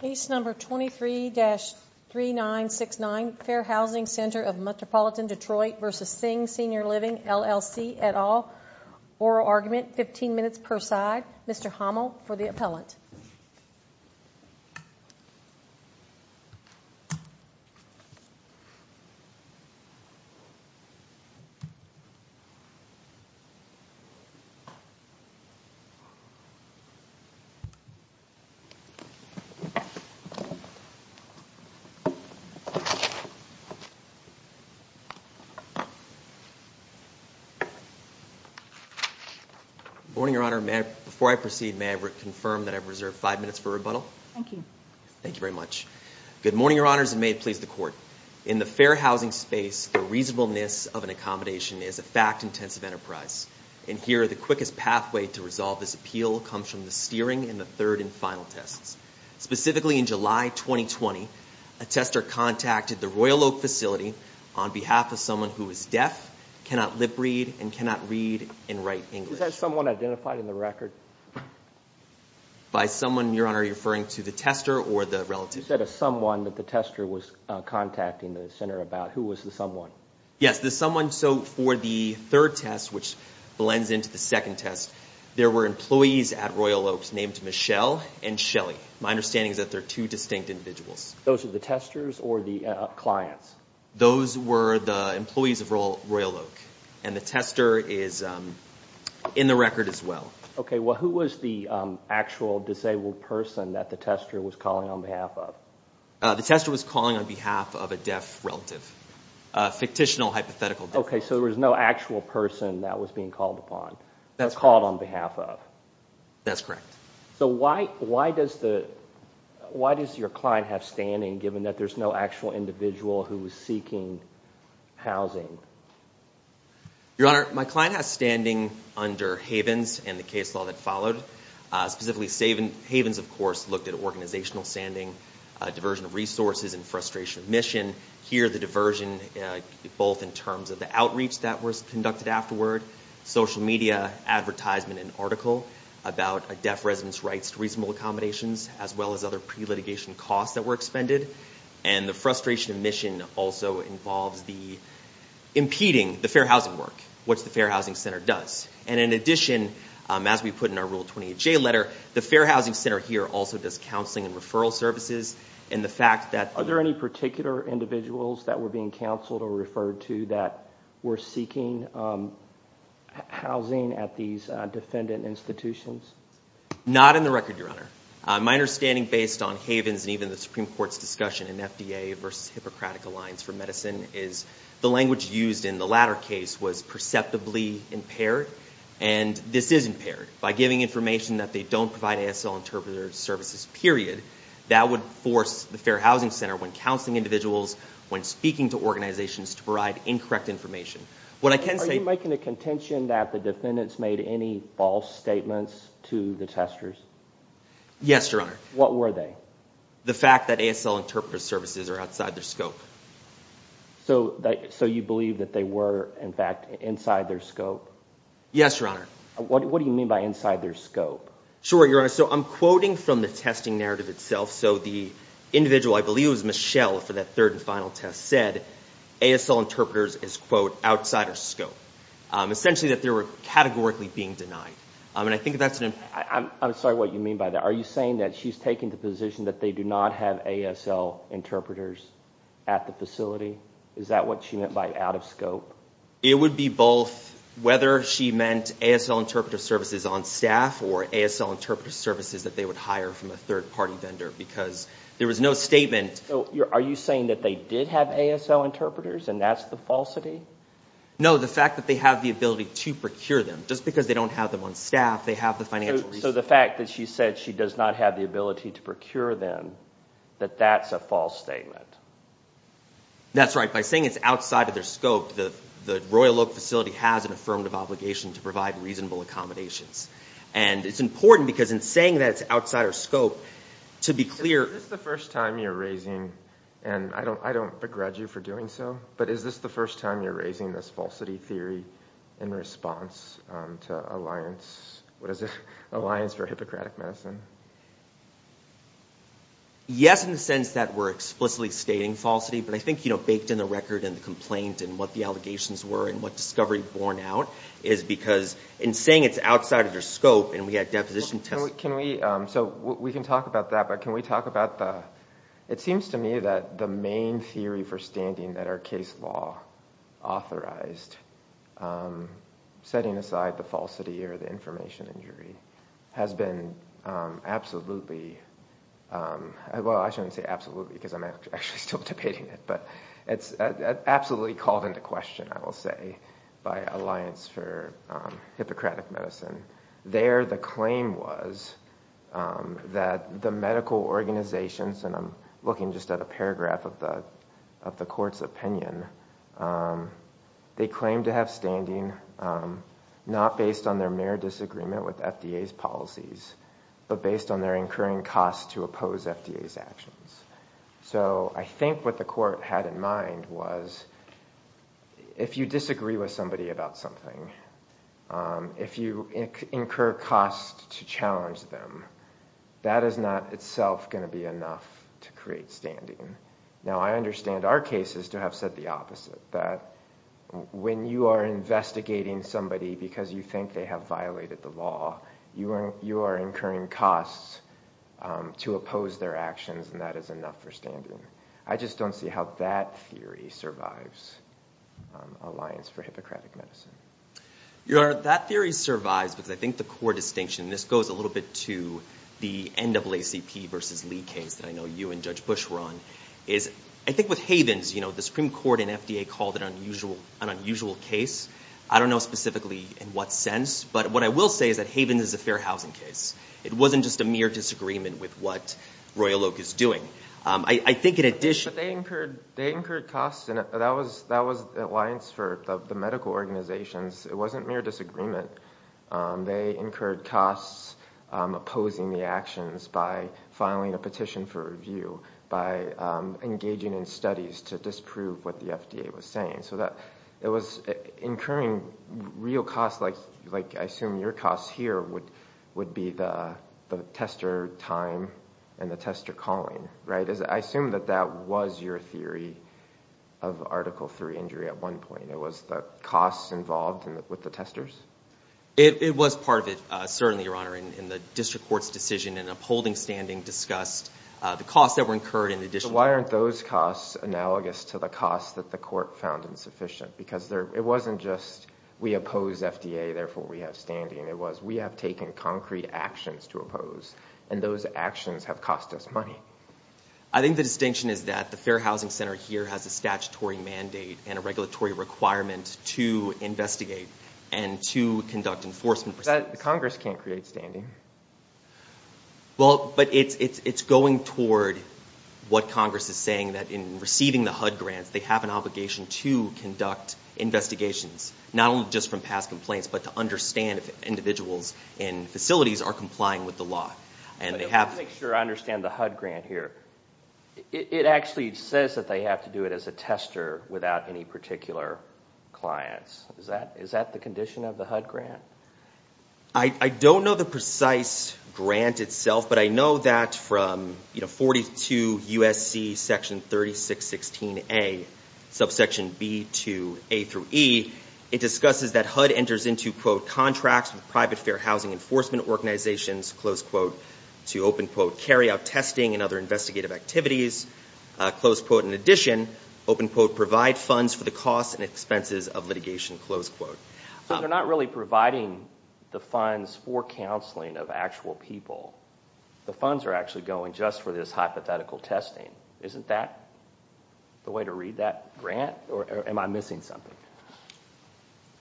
Case number 23-3969, Fair Housing Ctr of Metropolitan Detroit v. Singh Senior Living LLC et al. Oral argument, 15 minutes per side. Mr. Hommel for the appellant. Good morning, Your Honor. Before I proceed, may I confirm that I've reserved five minutes for rebuttal? Thank you. Thank you very much. Good morning, Your Honors, and may it please the Court. In the fair housing space, the reasonableness of an accommodation is a fact-intensive enterprise. And here, the quickest pathway to resolve this appeal comes from the steering in the third and final tests. Specifically, in July 2020, a tester contacted the Royal Oak facility on behalf of someone who is deaf, cannot lip-read, and cannot read and write English. Was that someone identified in the record? By someone, Your Honor, you're referring to the tester or the relative? You said a someone that the tester was contacting the center about. Who was the someone? Yes, the someone. So for the third test, which blends into the second test, there were employees at Royal Oak named Michelle and Shelly. My understanding is that they're two distinct individuals. Those are the testers or the clients? Those were the employees of Royal Oak. And the tester is in the record as well. Okay. Well, who was the actual disabled person that the tester was calling on behalf of? The tester was calling on behalf of a deaf relative, a fictitional hypothetical deaf relative. Okay, so there was no actual person that was being called on behalf of? That's correct. So why does your client have standing, given that there's no actual individual who was seeking housing? Your Honor, my client has standing under Havens and the case law that followed. Specifically, Havens, of course, looked at organizational standing, diversion of resources, and frustration of mission. Here, the diversion, both in terms of the outreach that was conducted afterward, social media, advertisement, and article about deaf residents' rights to reasonable accommodations, as well as other pre-litigation costs that were expended. And the frustration of mission also involves impeding the fair housing work, which the Fair Housing Center does. And in addition, as we put in our Rule 28J letter, the Fair Housing Center here also does counseling and referral services. Are there any particular individuals that were being counseled or referred to that were seeking housing at these defendant institutions? Not in the record, Your Honor. My understanding, based on Havens and even the Supreme Court's discussion in FDA versus Hippocratic Alliance for Medicine, is the language used in the latter case was perceptibly impaired, and this is impaired. By giving information that they don't provide ASL interpreter services, period, that would force the Fair Housing Center, when counseling individuals, when speaking to organizations, to provide incorrect information. Are you making the contention that the defendants made any false statements to the testers? Yes, Your Honor. What were they? The fact that ASL interpreter services are outside their scope. So you believe that they were, in fact, inside their scope? Yes, Your Honor. What do you mean by inside their scope? Sure, Your Honor. So I'm quoting from the testing narrative itself. So the individual, I believe it was Michelle for that third and final test, said, ASL interpreters is, quote, outside our scope. Essentially that they were categorically being denied. And I think that's an important point. I'm sorry what you mean by that. Are you saying that she's taking the position that they do not have ASL interpreters at the facility? Is that what she meant by out of scope? It would be both whether she meant ASL interpreter services on staff or ASL interpreter services that they would hire from a third-party vendor because there was no statement. Are you saying that they did have ASL interpreters and that's the falsity? No, the fact that they have the ability to procure them. Just because they don't have them on staff, they have the financial resources. So the fact that she said she does not have the ability to procure them, that that's a false statement. That's right. By saying it's outside of their scope, the Royal Oak facility has an affirmative obligation to provide reasonable accommodations. And it's important because in saying that it's outside our scope, to be clear... Is this the first time you're raising, and I don't begrudge you for doing so, but is this the first time you're raising this falsity theory in response to Alliance for Hippocratic Medicine? Yes, in the sense that we're explicitly stating falsity, but I think baked in the record and the complaint and what the allegations were and what discovery borne out is because in saying it's outside of their scope and we had deposition tests... So we can talk about that, but can we talk about the... It seems to me that the main theory for standing that our case law authorized, setting aside the falsity or the information injury, has been absolutely... Well, I shouldn't say absolutely because I'm actually still debating it, but it's absolutely called into question, I will say, by Alliance for Hippocratic Medicine. There the claim was that the medical organizations, and I'm looking just at a paragraph of the court's opinion, they claim to have standing not based on their mere disagreement with FDA's policies, but based on their incurring costs to oppose FDA's actions. So I think what the court had in mind was if you disagree with somebody about something, if you incur costs to challenge them, that is not itself going to be enough to create standing. Now, I understand our case is to have said the opposite, that when you are investigating somebody because you think they have violated the law, you are incurring costs to oppose their actions, and that is enough for standing. I just don't see how that theory survives Alliance for Hippocratic Medicine. That theory survives because I think the core distinction, and this goes a little bit to the NAACP versus Lee case that I know you and Judge Bush were on, is I think with Havens, the Supreme Court and FDA called it an unusual case. I don't know specifically in what sense, but what I will say is that Havens is a fair housing case. It wasn't just a mere disagreement with what Royal Oak is doing. I think in addition to that. But they incurred costs, and that was Alliance for the medical organizations. It wasn't mere disagreement. They incurred costs opposing the actions by filing a petition for review, by engaging in studies to disprove what the FDA was saying. So it was incurring real costs like I assume your costs here would be the tester time and the tester calling, right? I assume that that was your theory of Article III injury at one point. It was the costs involved with the testers? It was part of it, certainly, Your Honor. In the district court's decision in upholding standing discussed the costs that were incurred in addition. Why aren't those costs analogous to the costs that the court found insufficient? Because it wasn't just we oppose FDA, therefore we have standing. It was we have taken concrete actions to oppose, and those actions have cost us money. I think the distinction is that the Fair Housing Center here has a statutory mandate and a regulatory requirement to investigate and to conduct enforcement. But Congress can't create standing. Well, but it's going toward what Congress is saying, that in receiving the HUD grants, they have an obligation to conduct investigations, not only just from past complaints, but to understand if individuals and facilities are complying with the law. Let me make sure I understand the HUD grant here. It actually says that they have to do it as a tester without any particular clients. Is that the condition of the HUD grant? I don't know the precise grant itself, but I know that from 42 U.S.C. section 3616A, subsection B to A through E, it discusses that HUD enters into, quote, contracts with private fair housing enforcement organizations, close quote, to, open quote, carry out testing and other investigative activities, close quote. In addition, open quote, provide funds for the costs and expenses of litigation, close quote. So they're not really providing the funds for counseling of actual people. The funds are actually going just for this hypothetical testing. Isn't that the way to read that grant, or am I missing something?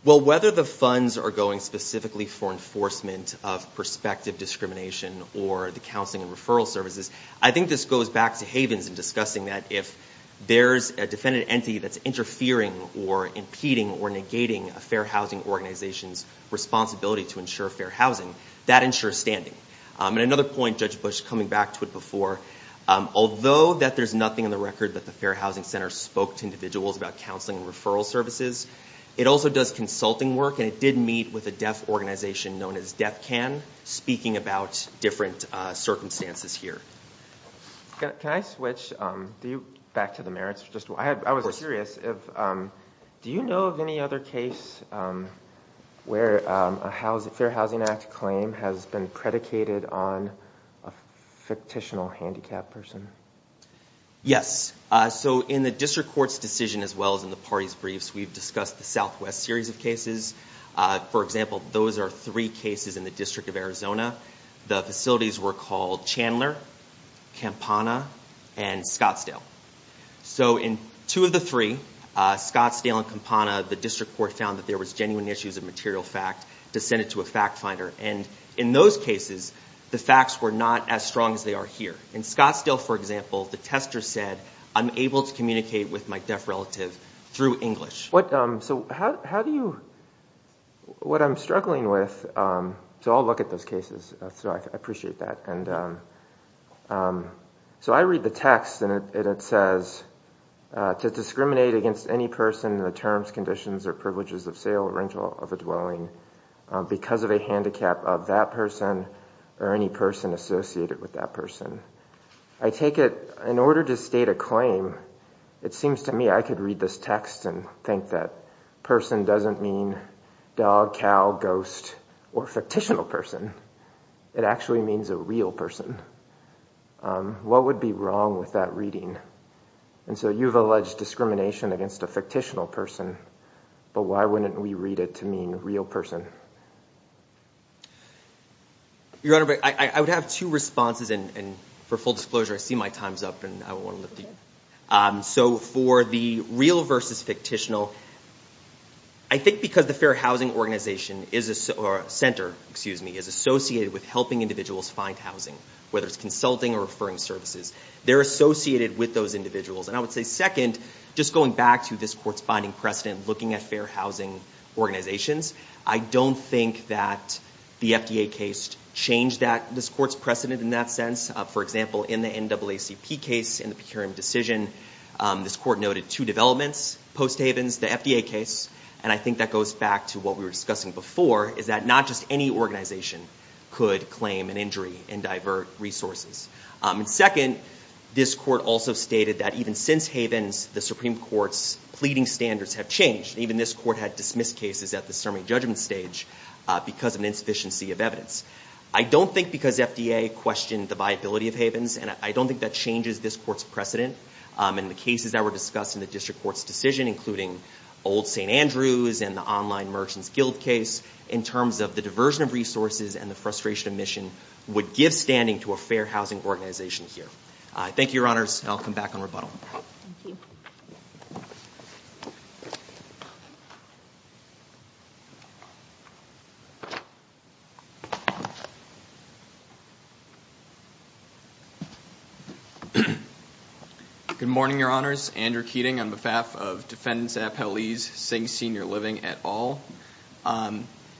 Well, whether the funds are going specifically for enforcement of prospective discrimination or the counseling and referral services, I think this goes back to Havens in discussing that. If there's a defendant entity that's interfering or impeding or negating a fair housing organization's responsibility to ensure fair housing, that ensures standing. And another point, Judge Bush, coming back to it before, although that there's nothing in the record that the Fair Housing Center spoke to individuals about counseling and referral services, it also does consulting work, and it did meet with a deaf organization known as DeafCan, speaking about different circumstances here. Can I switch back to the merits? I was curious, do you know of any other case where a Fair Housing Act claim has been predicated on a fictitional handicapped person? Yes. So in the district court's decision as well as in the party's briefs, we've discussed the Southwest series of cases. For example, those are three cases in the District of Arizona. The facilities were called Chandler, Campana, and Scottsdale. So in two of the three, Scottsdale and Campana, the district court found that there was genuine issues of material fact to send it to a fact finder. And in those cases, the facts were not as strong as they are here. In Scottsdale, for example, the tester said, I'm able to communicate with my deaf relative through English. What I'm struggling with, so I'll look at those cases. I appreciate that. So I read the text, and it says, to discriminate against any person in the terms, conditions, or privileges of sale or rental of a dwelling because of a handicap of that person or any person associated with that person. I take it, in order to state a claim, it seems to me I could read this text and think that person doesn't mean dog, cow, ghost, or fictitional person. It actually means a real person. What would be wrong with that reading? And so you've alleged discrimination against a fictitional person, but why wouldn't we read it to mean real person? Your Honor, I would have two responses, and for full disclosure, I see my time's up, and I want to lift it. So for the real versus fictitional, I think because the Fair Housing Organization is associated with helping individuals find housing, whether it's consulting or referring services, they're associated with those individuals. And I would say, second, just going back to this Court's binding precedent looking at Fair Housing Organizations, I don't think that the FDA case changed this Court's precedent in that sense. For example, in the NAACP case, in the Pecuriam decision, this Court noted two developments post-Havens. The FDA case, and I think that goes back to what we were discussing before, is that not just any organization could claim an injury and divert resources. Second, this Court also stated that even since Havens, the Supreme Court's pleading standards have changed. Even this Court had dismissed cases at the summary judgment stage because of an insufficiency of evidence. I don't think because FDA questioned the viability of Havens, and I don't think that changes this Court's precedent in the cases that were discussed in the District Court's decision, including old St. Andrews and the Online Merchants Guild case, in terms of the diversion of resources and the frustration of mission would give standing to a Fair Housing Organization here. Thank you, Your Honors, and I'll come back on rebuttal. Thank you. Good morning, Your Honors. Andrew Keating on behalf of Defendants Appellees, Sings Senior Living et al.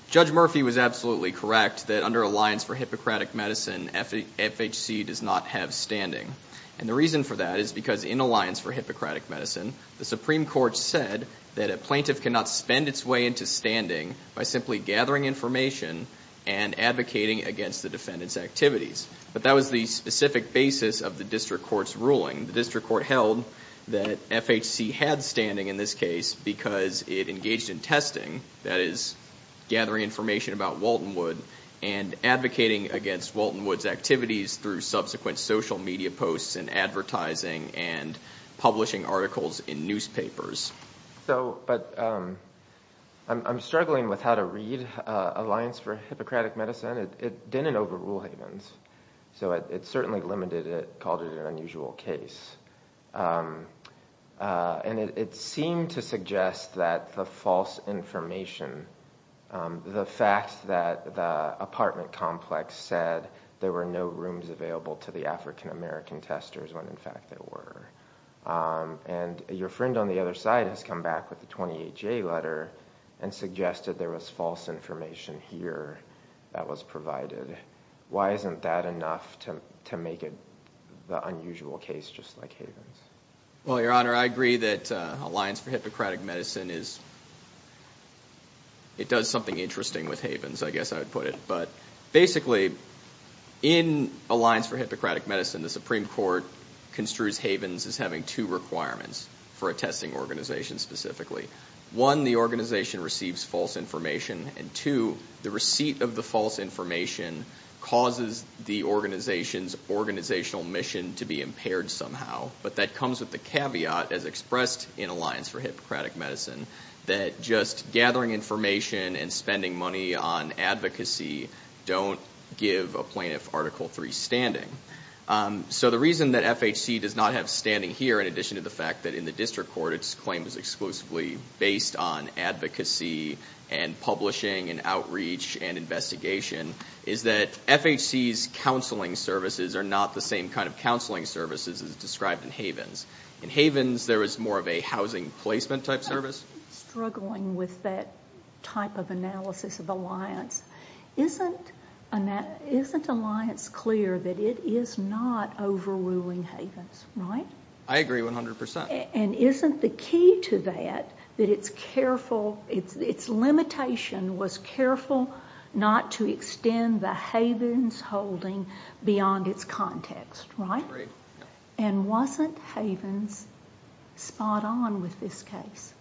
Judge Murphy was absolutely correct that under Alliance for Hippocratic Medicine, FHC does not have standing. And the reason for that is because in Alliance for Hippocratic Medicine, the Supreme Court said that a plaintiff cannot spend its way into standing by simply gathering information and advocating against the defendant's activities. But that was the specific basis of the District Court's ruling. The District Court held that FHC had standing in this case because it engaged in testing, that is, gathering information about Waltonwood, and advocating against Waltonwood's activities through subsequent social media posts and advertising and publishing articles in newspapers. But I'm struggling with how to read Alliance for Hippocratic Medicine. It didn't overrule Havens, so it certainly limited it, called it an unusual case. And it seemed to suggest that the false information, the fact that the apartment complex said there were no rooms available to the African-American testers when, in fact, there were, and your friend on the other side has come back with the 28-J letter and suggested there was false information here that was provided. Why isn't that enough to make it the unusual case just like Havens? Well, Your Honor, I agree that Alliance for Hippocratic Medicine is, it does something interesting with Havens, I guess I would put it. But basically, in Alliance for Hippocratic Medicine, the Supreme Court construes Havens as having two requirements for a testing organization specifically. One, the organization receives false information, and two, the receipt of the false information causes the organization's organizational mission to be impaired somehow. But that comes with the caveat, as expressed in Alliance for Hippocratic Medicine, that just gathering information and spending money on advocacy don't give a plaintiff Article III standing. So the reason that FHC does not have standing here, in addition to the fact that in the district court its claim is exclusively based on advocacy and publishing and outreach and investigation, is that FHC's counseling services are not the same kind of counseling services as described in Havens. In Havens, there is more of a housing placement type service. I was struggling with that type of analysis of Alliance. Isn't Alliance clear that it is not overruling Havens? Right? I agree 100%. And isn't the key to that that its careful, its limitation was careful not to extend the Havens holding beyond its context? Right? I agree. And wasn't Havens spot on with this case?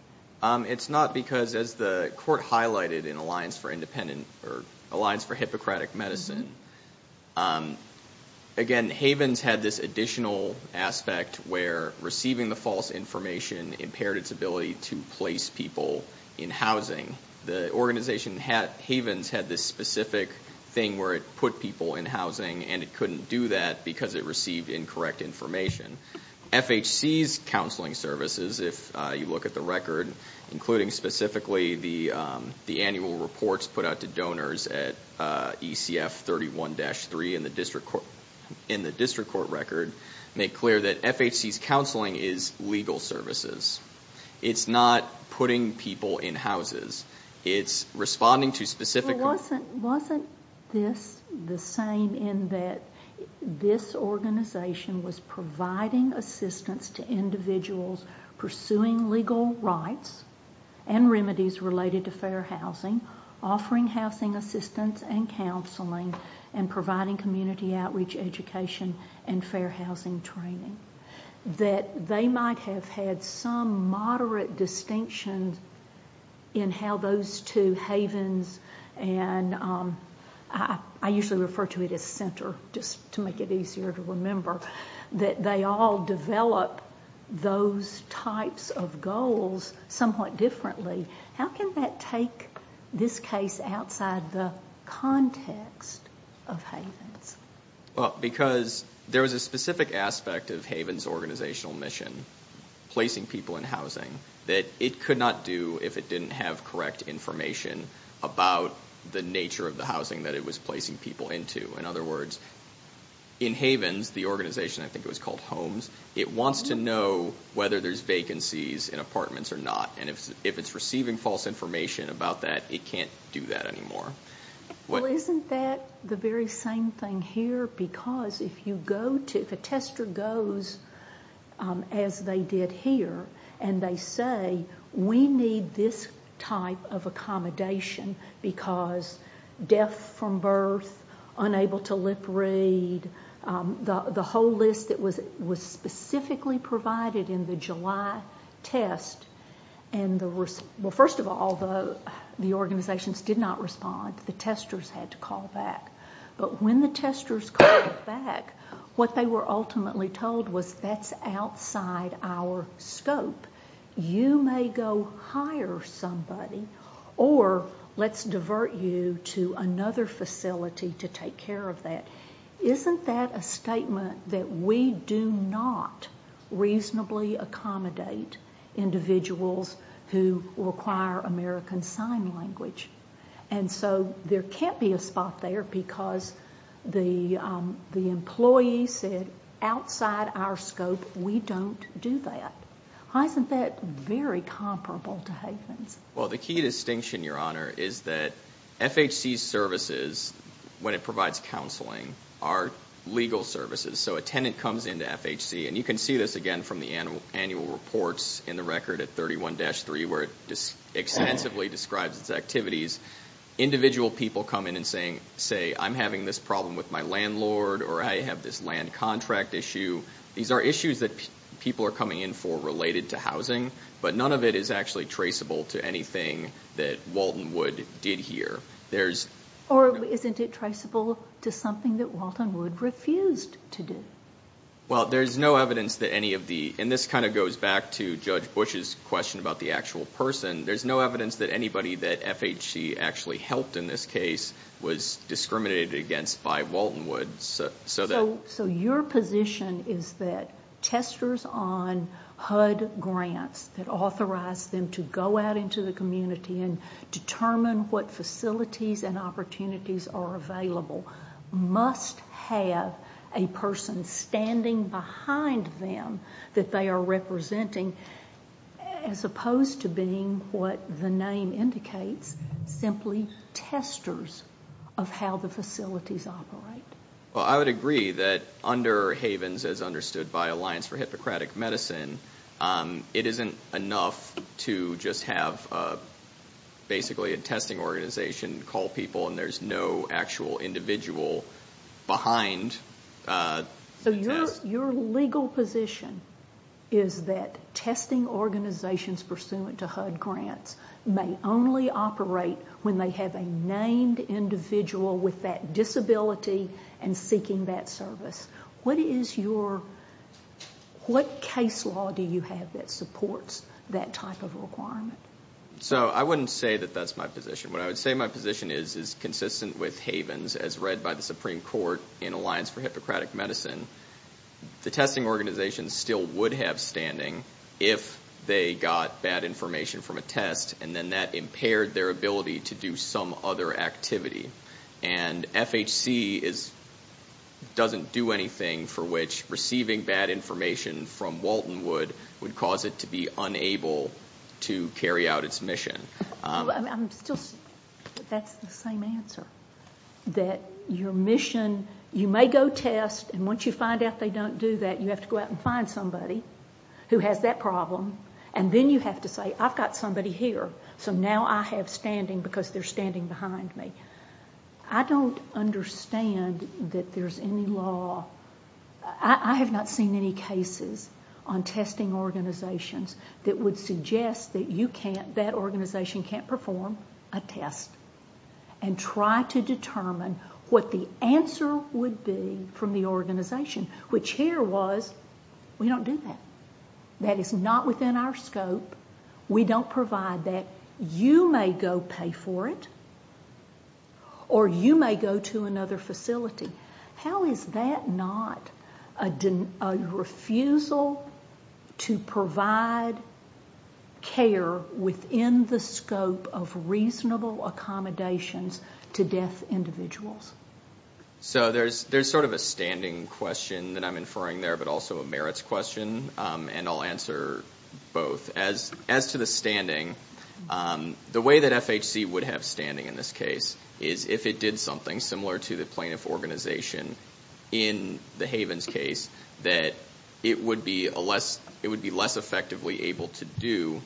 It's not because, as the court highlighted in Alliance for Independent or Alliance for Hippocratic Medicine, again, Havens had this additional aspect where receiving the false information impaired its ability to place people in housing. The organization, Havens, had this specific thing where it put people in housing, and it couldn't do that because it received incorrect information. FHC's counseling services, if you look at the record, including specifically the annual reports put out to donors at ECF 31-3 in the district court record, make clear that FHC's counseling is legal services. It's not putting people in houses. It's responding to specific. Wasn't this the same in that this organization was providing assistance to individuals pursuing legal rights and remedies related to fair housing, offering housing assistance and counseling, and providing community outreach education and fair housing training, that they might have had some moderate distinction in how those two, Havens and I usually refer to it as Center, just to make it easier to remember, that they all develop those types of goals somewhat differently. How can that take this case outside the context of Havens? Because there was a specific aspect of Havens' organizational mission, placing people in housing, that it could not do if it didn't have correct information about the nature of the housing that it was placing people into. In other words, in Havens, the organization, I think it was called Homes, it wants to know whether there's vacancies in apartments or not, and if it's receiving false information about that, it can't do that anymore. Well, isn't that the very same thing here? Because if a tester goes, as they did here, and they say, we need this type of accommodation because deaf from birth, unable to lip read, the whole list that was specifically provided in the July test, and the first of all, the organizations did not respond. The testers had to call back. But when the testers called back, what they were ultimately told was, that's outside our scope. You may go hire somebody, or let's divert you to another facility to take care of that. Isn't that a statement that we do not reasonably accommodate individuals who require American Sign Language? And so there can't be a spot there because the employee said, outside our scope, we don't do that. Isn't that very comparable to Havens? Well, the key distinction, Your Honor, is that FHC services, when it provides counseling, are legal services. So a tenant comes into FHC, and you can see this again from the annual reports in the record at 31-3, where it extensively describes its activities. Individual people come in and say, I'm having this problem with my landlord, or I have this land contract issue. These are issues that people are coming in for related to housing, but none of it is actually traceable to anything that Walton Wood did here. Or isn't it traceable to something that Walton Wood refused to do? Well, there's no evidence that any of the, and this kind of goes back to Judge Bush's question about the actual person, there's no evidence that anybody that FHC actually helped in this case was discriminated against by Walton Wood. So your position is that testers on HUD grants that authorize them to go out into the community and determine what facilities and opportunities are available must have a person standing behind them that they are representing as opposed to being what the name indicates, simply testers of how the facilities operate. Well, I would agree that under Havens, as understood by Alliance for Hippocratic Medicine, it isn't enough to just have basically a testing organization call people and there's no actual individual behind the test. So your legal position is that testing organizations pursuant to HUD grants may only operate when they have a named individual with that disability and seeking that service. What is your, what case law do you have that supports that type of requirement? So I wouldn't say that that's my position. What I would say my position is is consistent with Havens as read by the Supreme Court in Alliance for Hippocratic Medicine. The testing organization still would have standing if they got bad information from a test and then that impaired their ability to do some other activity. And FHC doesn't do anything for which receiving bad information from Walton Wood would cause it to be unable to carry out its mission. I'm still, that's the same answer. That your mission, you may go test and once you find out they don't do that, you have to go out and find somebody who has that problem and then you have to say I've got somebody here so now I have standing because they're standing behind me. I don't understand that there's any law, I have not seen any cases on testing organizations that would suggest that you can't, that organization can't perform a test and try to determine what the answer would be from the organization, which here was we don't do that. That is not within our scope. We don't provide that. You may go pay for it or you may go to another facility. How is that not a refusal to provide care within the scope of reasonable accommodations to deaf individuals? So there's sort of a standing question that I'm inferring there but also a merits question and I'll answer both. As to the standing, the way that FHC would have standing in this case is if it did something similar to the plaintiff organization in the Havens case that it would be less effectively able to do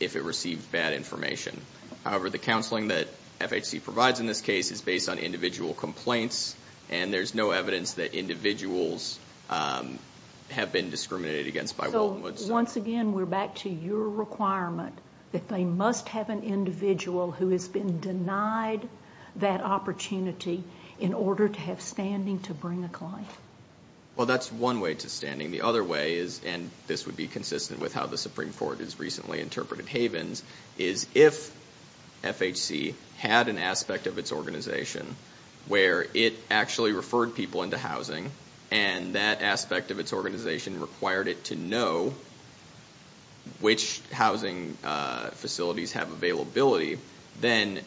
if it received bad information. However, the counseling that FHC provides in this case is based on individual complaints and there's no evidence that individuals have been discriminated against by Wollenwoods. Once again, we're back to your requirement that they must have an individual who has been denied that opportunity in order to have standing to bring a client. Well, that's one way to standing. The other way is, and this would be consistent with how the Supreme Court has recently interpreted Havens, is if FHC had an aspect of its organization where it actually referred people into housing and that aspect of its organization required it to know which housing facilities have availability, then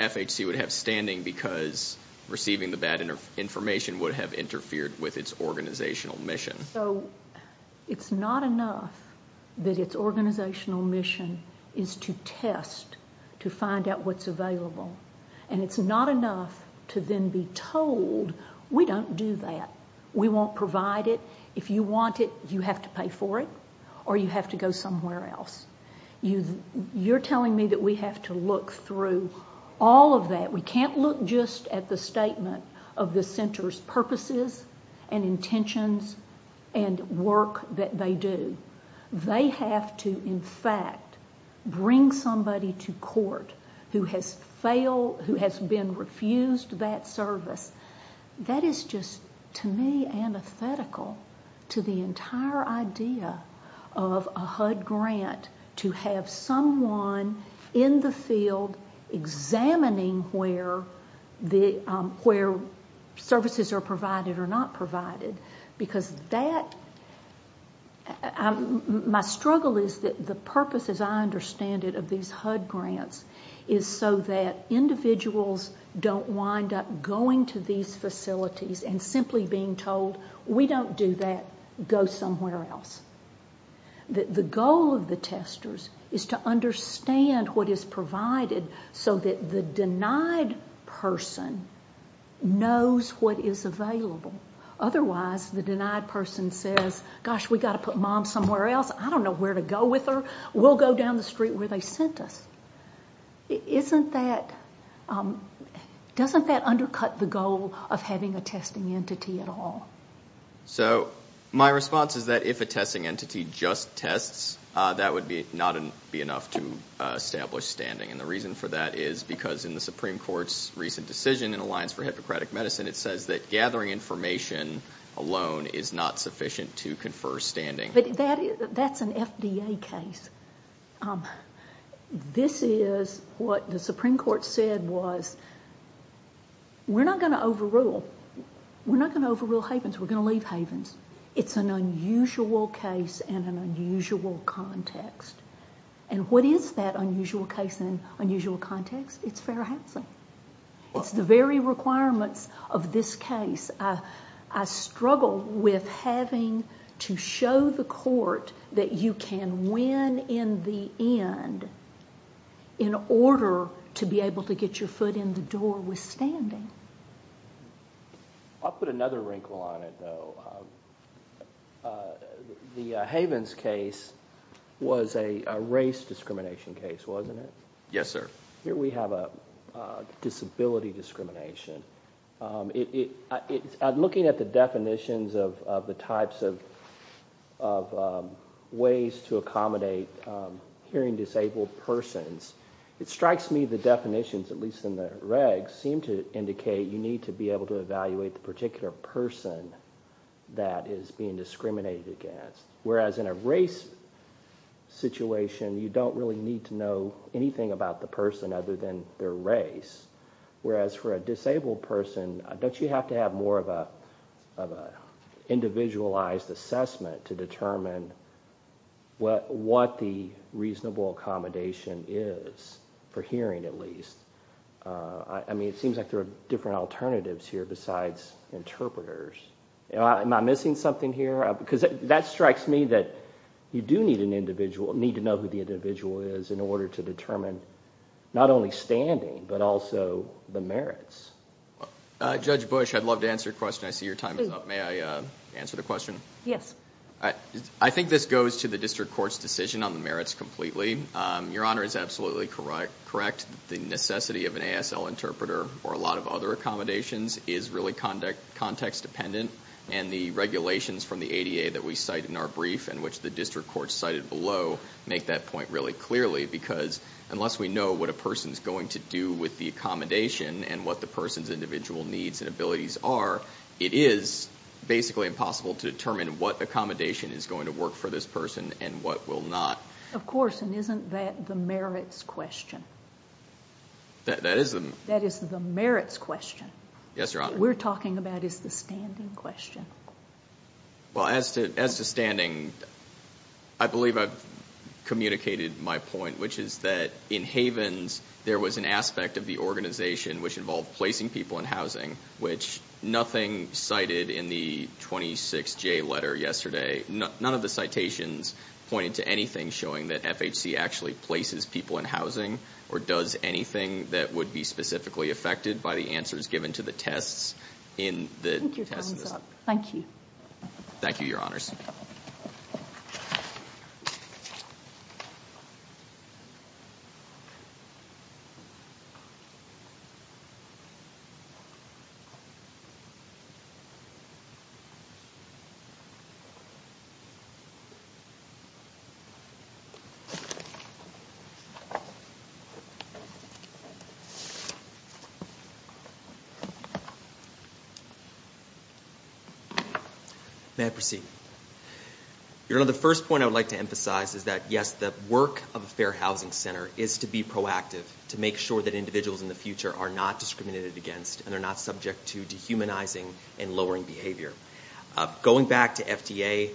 FHC would have standing because receiving the bad information would have interfered with its organizational mission. So it's not enough that its organizational mission is to test to find out what's available and it's not enough to then be told, we don't do that. We won't provide it. If you want it, you have to pay for it or you have to go somewhere else. You're telling me that we have to look through all of that. We can't look just at the statement of the center's purposes and intentions and work that they do. They have to, in fact, bring somebody to court who has been refused that service. That is just, to me, antithetical to the entire idea of a HUD grant to have someone in the field examining where services are provided or not provided because my struggle is that the purpose, as I understand it, of these HUD grants is so that individuals don't wind up going to these facilities and simply being told, we don't do that. Go somewhere else. The goal of the testers is to understand what is provided so that the denied person knows what is available. Otherwise, the denied person says, gosh, we've got to put mom somewhere else. I don't know where to go with her. We'll go down the street where they sent us. Doesn't that undercut the goal of having a testing entity at all? My response is that if a testing entity just tests, that would not be enough to establish standing, and the reason for that is because in the Supreme Court's recent decision in the Alliance for Hippocratic Medicine, it says that gathering information alone is not sufficient to confer standing. That's an FDA case. This is what the Supreme Court said was, we're not going to overrule. We're not going to overrule Havens. We're going to leave Havens. It's an unusual case and an unusual context. And what is that unusual case and unusual context? It's Fair Housing. It's the very requirements of this case. I struggle with having to show the court that you can win in the end in order to be able to get your foot in the door with standing. I'll put another wrinkle on it, though. The Havens case was a race discrimination case, wasn't it? Yes, sir. Here we have a disability discrimination. Looking at the definitions of the types of ways to accommodate hearing disabled persons, it strikes me the definitions, at least in the regs, seem to indicate you need to be able to evaluate the particular person that is being discriminated against, whereas in a race situation, you don't really need to know anything about the person other than their race. Whereas for a disabled person, don't you have to have more of an individualized assessment to determine what the reasonable accommodation is for hearing at least? I mean it seems like there are different alternatives here besides interpreters. Am I missing something here? Because that strikes me that you do need to know who the individual is in order to determine not only standing but also the merits. Judge Bush, I'd love to answer your question. I see your time is up. May I answer the question? Yes. I think this goes to the district court's decision on the merits completely. Your Honor is absolutely correct. The necessity of an ASL interpreter or a lot of other accommodations is really context dependent, and the regulations from the ADA that we cite in our brief and which the district court cited below make that point really clearly because unless we know what a person is going to do with the accommodation and what the person's individual needs and abilities are, it is basically impossible to determine what accommodation is going to work for this person and what will not. Of course, and isn't that the merits question? That is the merits question. Yes, Your Honor. What we're talking about is the standing question. Well, as to standing, I believe I've communicated my point, which is that in Havens there was an aspect of the organization which involved placing people in housing, which nothing cited in the 26J letter yesterday, none of the citations pointed to anything showing that FHC actually places people in housing or does anything that would be specifically affected by the answers given to the tests in the test list. Thank you. Thank you, Your Honors. May I proceed? Your Honor, the first point I would like to emphasize is that, yes, the work of a fair housing center is to be proactive, to make sure that individuals in the future are not discriminated against and are not subject to dehumanizing and lowering behavior. Going back to FDA,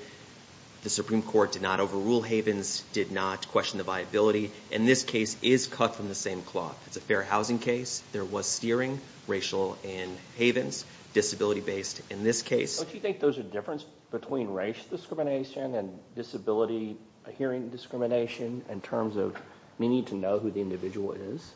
the Supreme Court did not overrule Havens, did not question the viability, and this case is cut from the same cloth. It's a fair housing case. There was steering, racial, in Havens, disability-based in this case. Don't you think there's a difference between race discrimination and disability hearing discrimination in terms of needing to know who the individual is?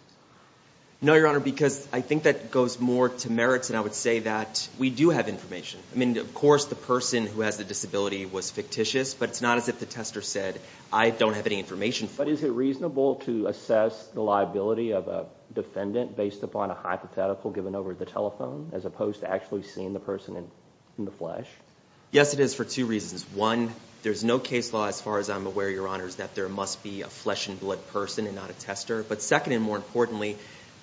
No, Your Honor, because I think that goes more to merits, and I would say that we do have information. I mean, of course, the person who has the disability was fictitious, but it's not as if the tester said, I don't have any information. But is it reasonable to assess the liability of a defendant based upon a hypothetical given over the telephone as opposed to actually seeing the person in the flesh? Yes, it is for two reasons. One, there's no case law as far as I'm aware, Your Honors, that there must be a flesh-and-blood person and not a tester. But second and more importantly,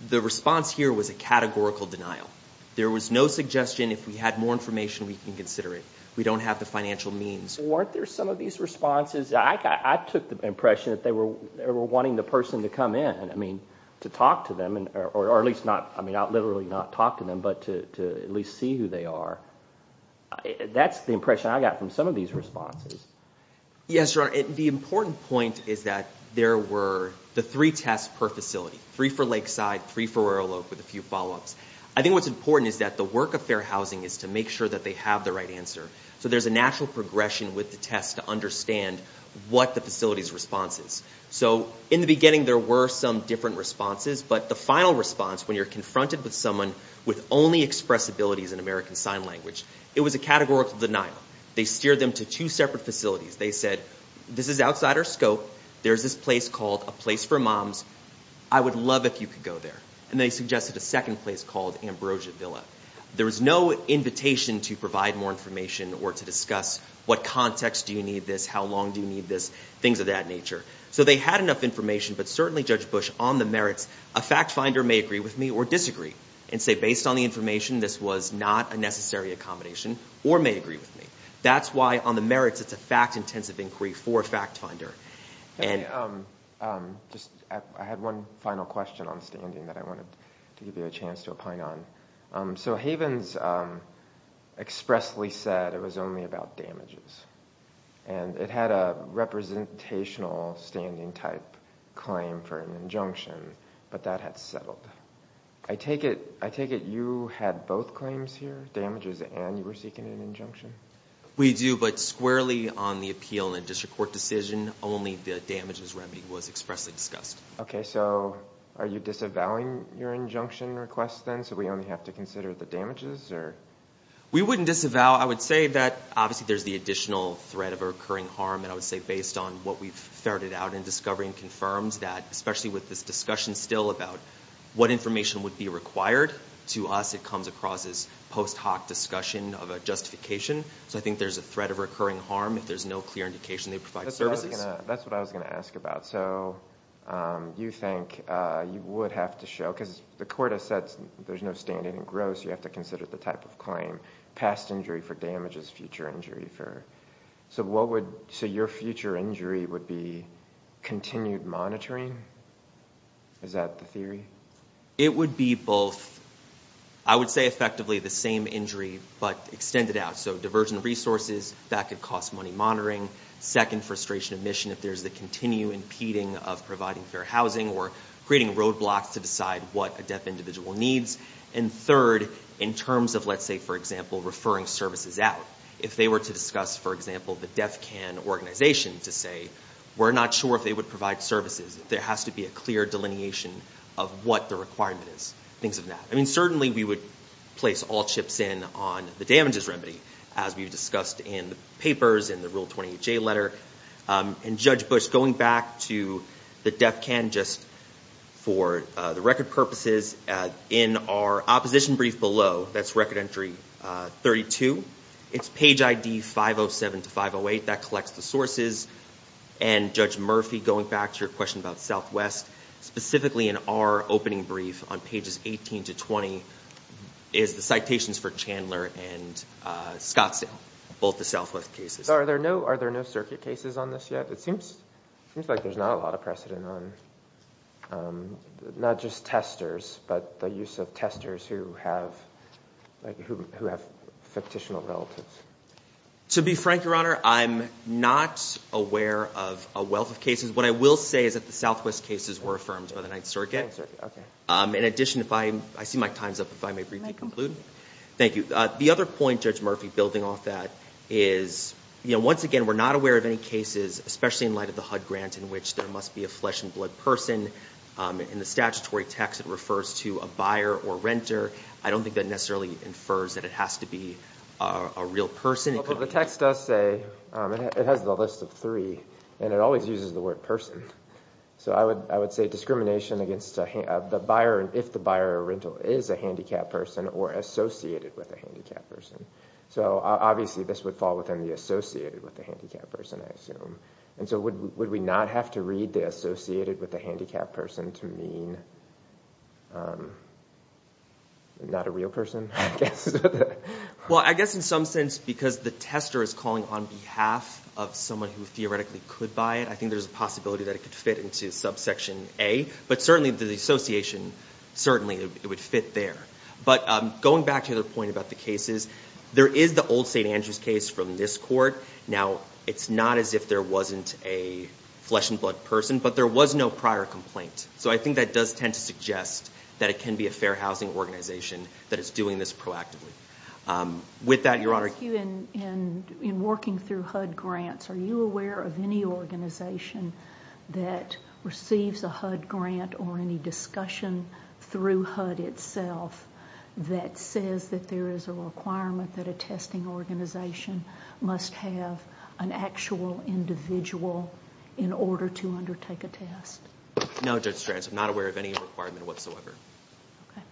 the response here was a categorical denial. There was no suggestion if we had more information, we can consider it. We don't have the financial means. Weren't there some of these responses? I took the impression that they were wanting the person to come in, I mean, to talk to them, or at least not literally not talk to them, but to at least see who they are. That's the impression I got from some of these responses. Yes, Your Honor, the important point is that there were the three tests per facility, three for Lakeside, three for Royal Oak with a few follow-ups. I think what's important is that the work of Fair Housing is to make sure that they have the right answer. So there's a natural progression with the test to understand what the facility's response is. So in the beginning there were some different responses, but the final response, when you're confronted with someone with only expressibilities in American Sign Language, it was a categorical denial. They steered them to two separate facilities. They said, this is outside our scope, there's this place called A Place for Moms, I would love if you could go there. And they suggested a second place called Ambrosia Villa. There was no invitation to provide more information or to discuss what context do you need this, how long do you need this, things of that nature. So they had enough information, but certainly, Judge Bush, on the merits, a fact finder may agree with me or disagree and say, based on the information this was not a necessary accommodation or may agree with me. That's why on the merits it's a fact-intensive inquiry for a fact finder. I had one final question on standing that I wanted to give you a chance to opine on. So Havens expressly said it was only about damages, and it had a representational standing type claim for an injunction, but that had settled. I take it you had both claims here, damages and you were seeking an injunction? We do, but squarely on the appeal and district court decision, only the damages remedy was expressly discussed. Okay. So are you disavowing your injunction request then, so we only have to consider the damages? We wouldn't disavow. I would say that obviously there's the additional threat of a recurring harm, and I would say based on what we've ferreted out in discovery and confirmed, that especially with this discussion still about what information would be required, to us it comes across as post hoc discussion of a justification. So I think there's a threat of recurring harm if there's no clear indication they provide services. That's what I was going to ask about. So you think you would have to show, because the court has said there's no standing in gross, you have to consider the type of claim, past injury for damages, future injury for... So your future injury would be continued monitoring? Is that the theory? It would be both... I would say effectively the same injury, but extended out. So diversion of resources, that could cost money monitoring. Second, frustration of mission if there's the continued impeding of providing fair housing or creating roadblocks to decide what a deaf individual needs. And third, in terms of, let's say, for example, referring services out. If they were to discuss, for example, the DEFCON organization to say, we're not sure if they would provide services, there has to be a clear delineation of what the requirement is, things of that. I mean, certainly we would place all chips in on the damages remedy, as we've discussed in the papers, in the Rule 28J letter. And Judge Bush, going back to the DEFCON, just for the record purposes, in our opposition brief below, that's Record Entry 32, it's Page ID 507 to 508, that collects the sources. And Judge Murphy, going back to your question about Southwest, specifically in our opening brief on Pages 18 to 20, is the citations for Chandler and Scottsdale, both the Southwest cases. Are there no circuit cases on this yet? It seems like there's not a lot of precedent on not just testers, but the use of testers who have fictitional relatives. To be frank, Your Honor, I'm not aware of a wealth of cases. What I will say is that the Southwest cases were affirmed by the Ninth Circuit. In addition, I see my time's up, if I may briefly conclude. Thank you. The other point, Judge Murphy, building off that is, once again, we're not aware of any cases, especially in light of the HUD grant, in which there must be a flesh-and-blood person. In the statutory text, it refers to a buyer or renter. I don't think that necessarily infers that it has to be a real person. The text does say it has the list of three, and it always uses the word person. So I would say discrimination if the buyer or renter is a handicapped person or associated with a handicapped person. Obviously, this would fall within the associated with the handicapped person, I assume. And so would we not have to read the associated with the handicapped person to mean not a real person, I guess? Well, I guess in some sense, because the tester is calling on behalf of someone who theoretically could buy it, I think there's a possibility that it could fit into subsection A. But certainly the association, certainly it would fit there. But going back to your point about the cases, there is the old St. Andrews case from this court. Now, it's not as if there wasn't a flesh-and-blood person, but there was no prior complaint. So I think that does tend to suggest that it can be a fair housing organization that is doing this proactively. With that, Your Honor. In working through HUD grants, are you aware of any organization that receives a HUD grant or any discussion through HUD itself that says that there is a requirement that a testing organization must have an actual individual in order to undertake a test? No, Judge Strantz. I'm not aware of any requirement whatsoever. Okay.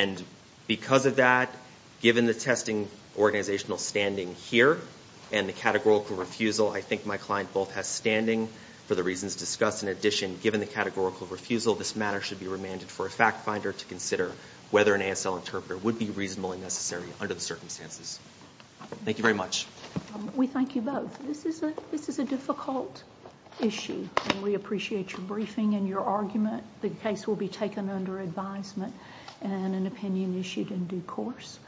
And because of that, given the testing organizational standing here and the categorical refusal, I think my client both has standing for the reasons discussed. In addition, given the categorical refusal, this matter should be remanded for a fact-finder to consider whether an ASL interpreter would be reasonable and necessary under the circumstances. Thank you very much. We thank you both. This is a difficult issue, and we appreciate your briefing and your argument. The case will be taken under advisement and an opinion issued in due course.